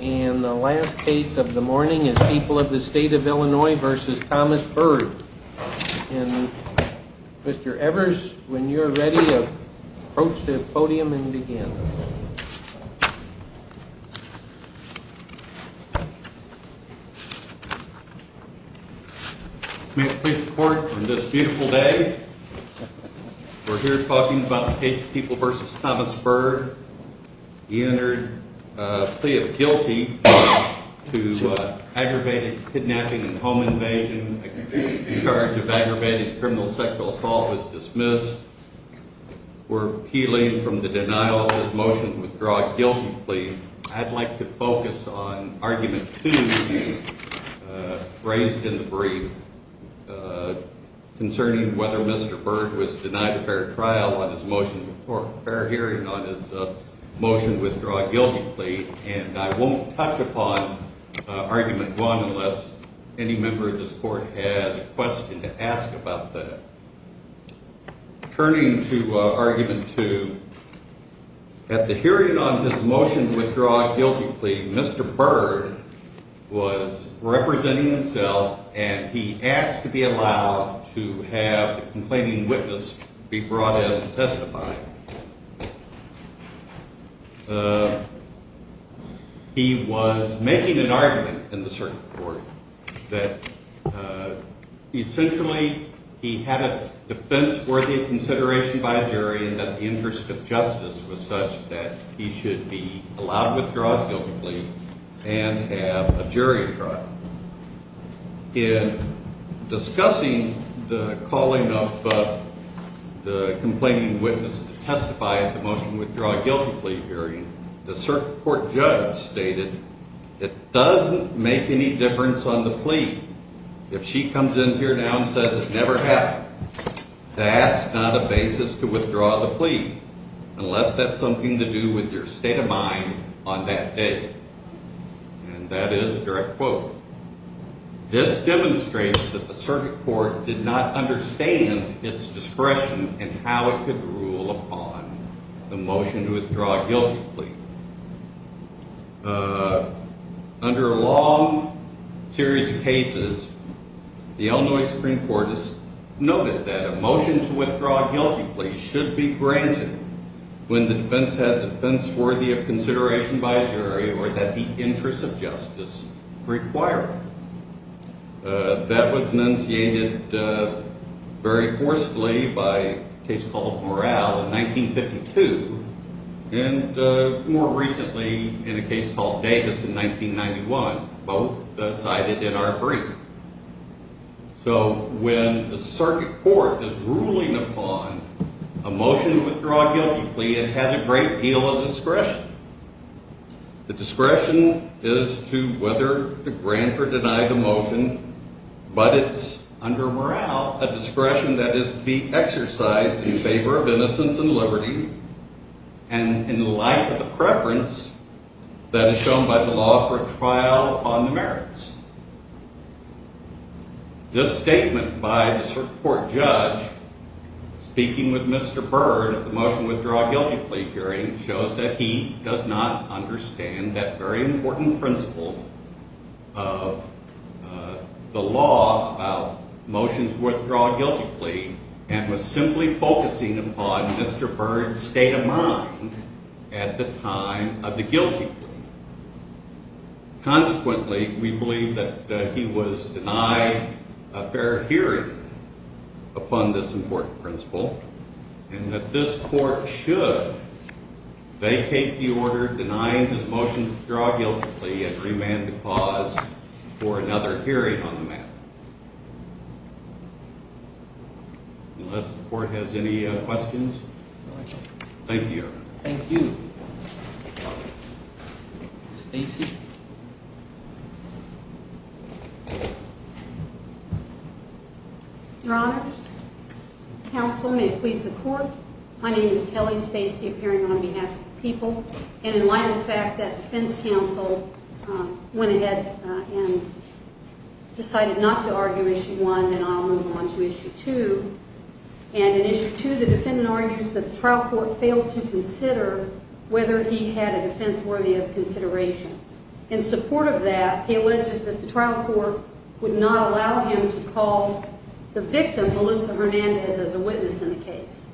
And the last case of the morning is People of the State of Illinois v. Thomas Byrd. And Mr. Evers, when you're ready, approach the podium and begin. Mr. Court, on this beautiful day, we're here talking about the case of People v. Thomas Byrd. He entered a plea of guilty to aggravated kidnapping and home invasion. A charge of aggravated criminal sexual assault was dismissed. We're appealing from the denial of his motion to withdraw a guilty plea. I'd like to focus on Argument 2, raised in the brief, concerning whether Mr. Byrd was motioned to withdraw a guilty plea. And I won't touch upon Argument 1 unless any member of this court has a question to ask about that. Turning to Argument 2, at the hearing on his motion to withdraw a guilty plea, Mr. Byrd was representing himself, and he asked to be allowed to have the complaining witness be brought in to testify. He was making an argument in the circuit court that essentially he had a defense worthy of consideration by a jury and that the interest of justice was such that he should be allowed to withdraw his guilty plea and have a jury trial. Now, in discussing the calling of the complaining witness to testify at the motion to withdraw a guilty plea hearing, the circuit court judge stated, it doesn't make any difference on the plea if she comes in here now and says it never happened. That's not a basis to withdraw the plea unless that's something to do with your state of mind on that day. And that is a direct quote. This demonstrates that the circuit court did not understand its discretion and how it could rule upon the motion to withdraw a guilty plea. Under a long series of cases, the Illinois Supreme Court noted that a motion to withdraw a guilty plea should be granted when the defense has a defense worthy of consideration by a jury or that the interest of justice require it. That was enunciated very forcefully by a case called Morale in 1952, and more recently in a case called Davis in 1991, both cited in our brief. So when the circuit court is ruling upon a motion to withdraw a guilty plea, it has a great deal of discretion. The discretion is to whether to grant or deny the motion, but it's under morale, a discretion that is to be exercised in favor of innocence and liberty and in light of the preference that is shown by the law for a trial on the merits. This statement by the circuit court judge speaking with Mr. Byrd of the motion to withdraw a guilty plea hearing shows that he does not understand that very important principle of the law about motions to withdraw a guilty plea and was simply focusing upon Mr. Byrd's state of mind at the time of the guilty plea. Consequently, we believe that he was denied a fair hearing upon this important principle and that this court should vacate the order denying his motion to withdraw a guilty plea and remand the cause for another hearing on the matter. Unless the court has any questions. Thank you. Thank you. Stacy. Your honors, counsel, may it please the court. My name is Kelly Stacy appearing on behalf of the people and in light of the fact that defense counsel went ahead and decided not to argue and I'll move on to issue two and in issue two the defendant argues that the trial court failed to consider whether he had a defense worthy of consideration. In support of that, he alleges that the trial court would not allow him to call the victim Melissa Hernandez as a witness in the case.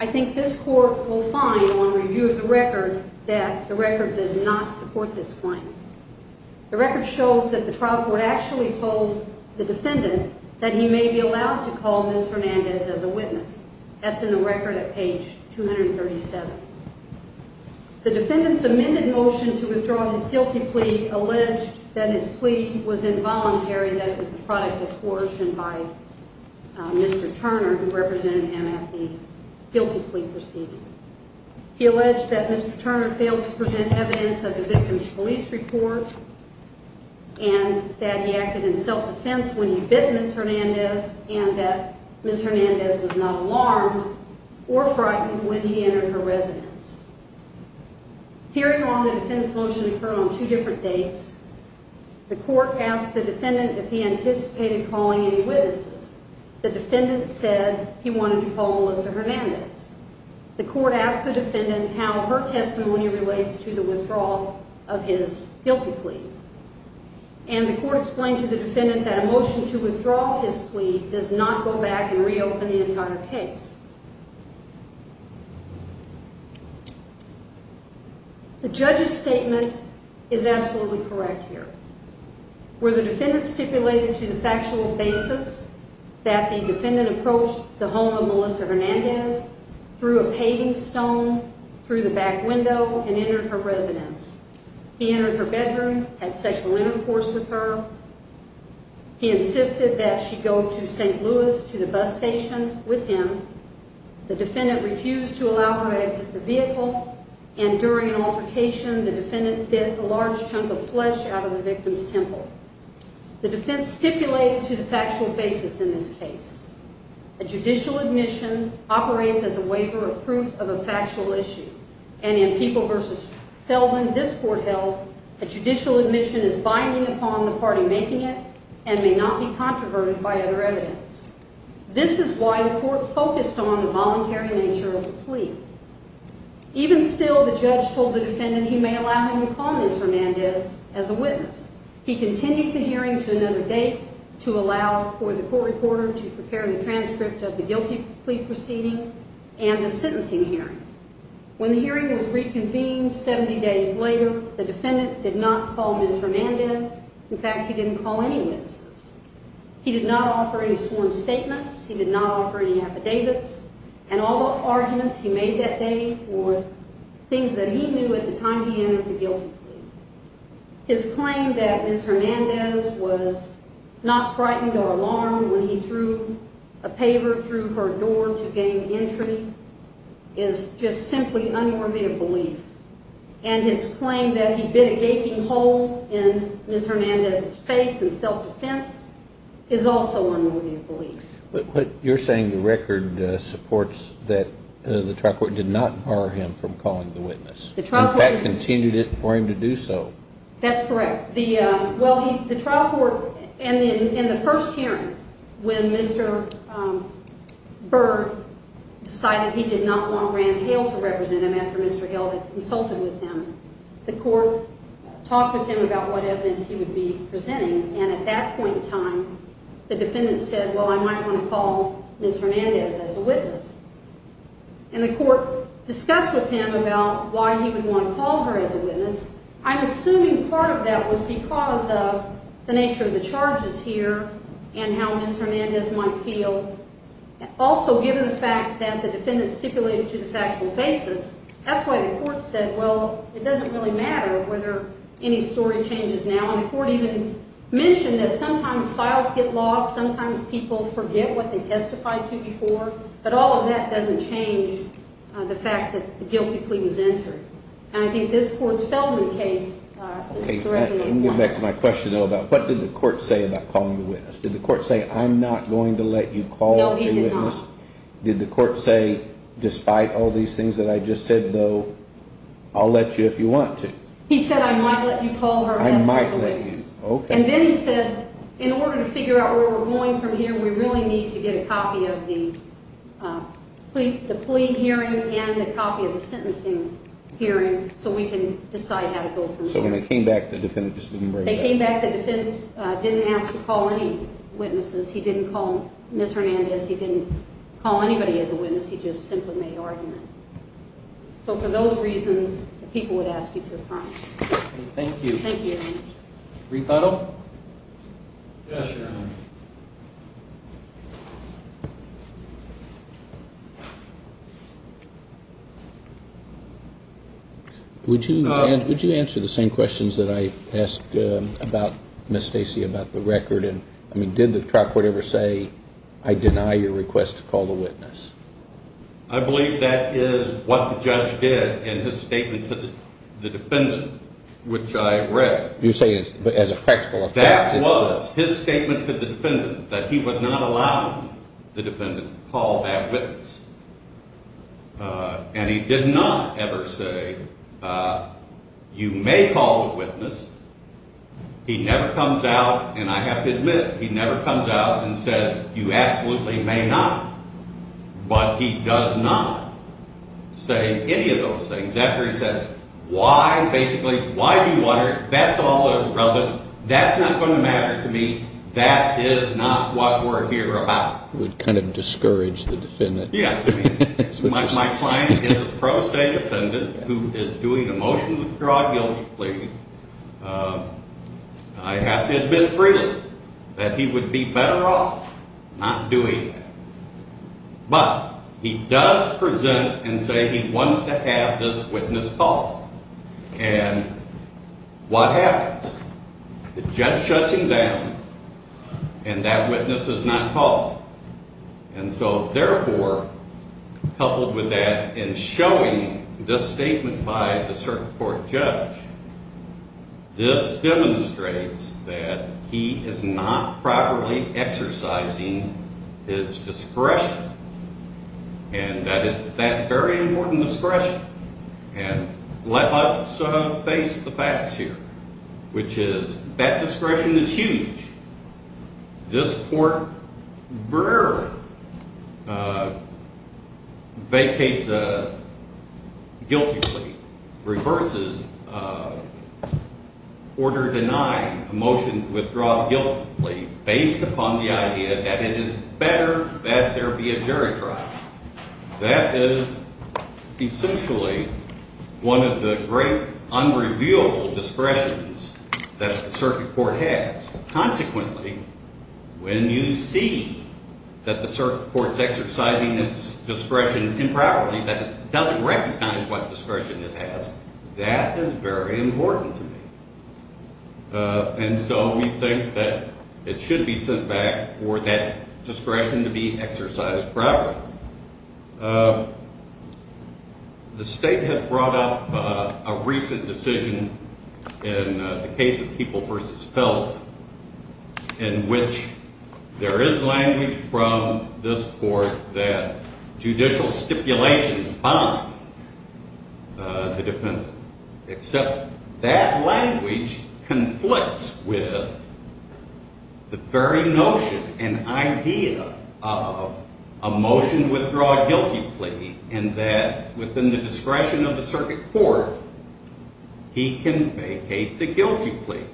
I think this court will find on review of the record that the record does not support this that he may be allowed to call Miss Hernandez as a witness. That's in the record at page 237. The defendant's amended motion to withdraw his guilty plea alleged that his plea was involuntary, that it was the product of coercion by Mr Turner, who represented him at the guilty plea proceeding. He alleged that Mr Turner failed to present evidence of the victim's police report and that he acted in self defense when he bit Miss Hernandez and that Miss Hernandez was not alarmed or frightened when he entered her residence. Hearing on the defendant's motion occurred on two different dates, the court asked the defendant if he anticipated calling any witnesses. The defendant said he wanted to call Melissa Hernandez. The court asked the defendant how her testimony relates to the withdrawal of his guilty plea and the court explained to the defendant that a motion to withdraw his plea does not go back and reopen the entire case. The judge's statement is absolutely correct here. Where the defendant stipulated to the factual basis that the defendant approached the home of Melissa Hernandez through a paving stone, through the back window, and entered her residence. He entered her bedroom, had sexual intercourse with her. He insisted that she go to St. Louis to the bus station with him. The defendant refused to allow her exit the vehicle and during an altercation the defendant bit a large chunk of flesh out of the victim's temple. The defense stipulated to the factual basis in this and in People v. Feldman this court held that judicial admission is binding upon the party making it and may not be controverted by other evidence. This is why the court focused on the voluntary nature of the plea. Even still the judge told the defendant he may allow him to call Melissa Hernandez as a witness. He continued the hearing to another date to allow for the court reporter to prepare the transcript of the guilty plea proceeding and the sentencing hearing. When the hearing was reconvened 70 days later the defendant did not call Ms. Hernandez. In fact he didn't call any witnesses. He did not offer any sworn statements. He did not offer any affidavits and all the arguments he made that day were things that he knew at the time he entered the guilty plea. His claim that Ms. Hernandez was not frightened or alarmed when he threw a paver through her door to gain entry is just simply unworthy of belief and his claim that he bit a gaping hole in Ms. Hernandez's face in self-defense is also unworthy of belief. But you're saying the record supports that the trial court did not bar him from calling the witness. In fact continued for him to do so. That's correct. The trial court in the first hearing when Mr. Byrd decided he did not want Rand Hale to represent him after Mr. Hale had consulted with him the court talked with him about what evidence he would be presenting and at that point in time the defendant said well I might want to call Ms. Hernandez as a witness. And the court discussed with him about why he would want to call her as a witness. I'm assuming part of that was because of the nature of the charges here and how Ms. Hernandez might feel. Also given the fact that the defendant stipulated to the factual basis that's why the court said well it doesn't really matter whether any story changes now. And the court even mentioned that sometimes files get lost, sometimes people forget what they testified to before. But all of that doesn't change the fact that the guilty plea was entered. And I think this court's Feldman case is correct. Let me get back to my question though about what did the court say about calling the witness? Did the court say I'm not going to let you call her? No he did not. Did the court say despite all these things that I just said though I'll let you if you want to? He said I might let you call her. I might let you. Okay. And then he said in order to figure out where we're going from here we really need to get a copy of the plea hearing and the copy of the sentencing hearing so we can decide how to go from there. So when they came back the defendant didn't ask to call any witnesses. He didn't call Ms. Hernandez. He didn't call anybody as a witness. He just simply made an argument. So for those reasons the people would ask you to affirm. Thank you. Thank you. Rebuttal? Yes your honor. Would you answer the same questions that I asked about Ms. Stacey about the record and I mean did the trial court ever say I deny your request to call the witness? I believe that is what the judge did in his statement to the defendant which I read. You say as a practical effect. That was his statement to the defendant that he was not allowing the defendant to call that witness and he did not ever say you may call the witness. He never comes out and I have to admit he never comes out and says you absolutely may not but he does not say any of those things. After he says why basically why do you want her that's all irrelevant. That's not going to matter to me. That is not what we're here about. Would kind of discourage the defendant. Yeah my client is a pro se defendant who is doing a motion to withdraw guilty plea. I have to admit freely that he would be better off not doing that but he does present and say he wants to have this witness called and what happens? The judge shuts him down and that witness is not called and so therefore coupled with that in showing this statement by the circuit court judge this demonstrates that he is not properly exercising his discretion and that is that very important discretion and let us sort of face the facts here which is that discretion is huge. This court rarely vacates a guilty plea, reverses order denying a motion to withdraw guilty plea based upon the idea that it is better that there be a jury trial. That is essentially one of the great unrevealable discretions that the circuit court has. Consequently when you see that the circuit court's exercising its discretion improperly that it doesn't recognize what discretion it has that is very important to me and so we think that it should be sent back for that discretion to be exercised properly. The state has brought up a recent decision in the case of People v. Felden in which there is language from this court that judicial stipulations bind the defendant except that language conflicts with the very notion and idea of a motion to withdraw a guilty plea and that within the discretion of the circuit court he can vacate the guilty plea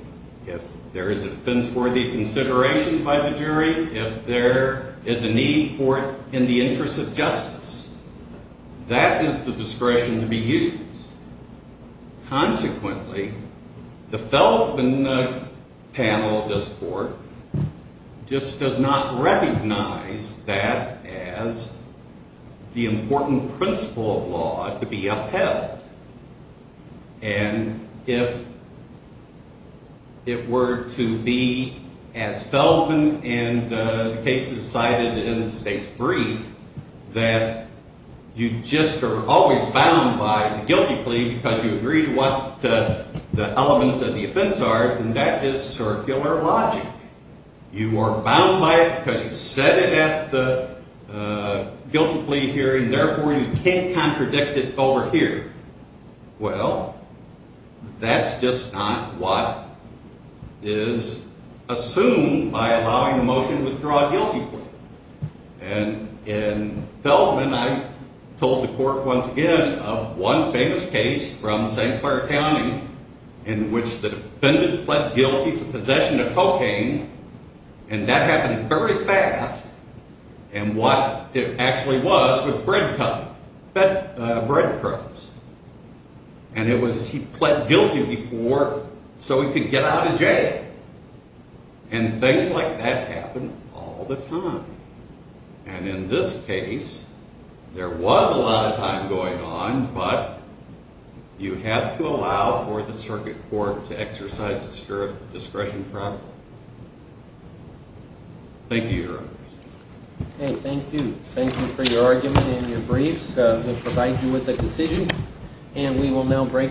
if there is a defense worthy consideration by the jury, if there is a need for it in the interest of justice. That is the discretion to be used. Consequently the Felden panel of this court just does not recognize that as the important principle of law to be upheld and if it were to be as Felden and the cases cited in the state's brief that you just are always bound by the guilty plea because you agree to what the elements of the offense are and that is circular logic. You are bound by it because you said it at the guilty plea hearing therefore you can't predict it over here. Well that's just not what is assumed by allowing a motion to withdraw a guilty plea and in Felden I told the court once again of one famous case from St. Clair County in which the defendant pled guilty to possession of cocaine and that happened very fast and what it actually was was breadcrumbs and it was he pled guilty before so he could get out of jail and things like that happen all the time and in this case there was a lot of time going on but you have to allow for the circuit court to exercise the discretion properly. Thank you your honor. Okay thank you thank you for your argument and your briefs uh we provide you with a decision and we will now break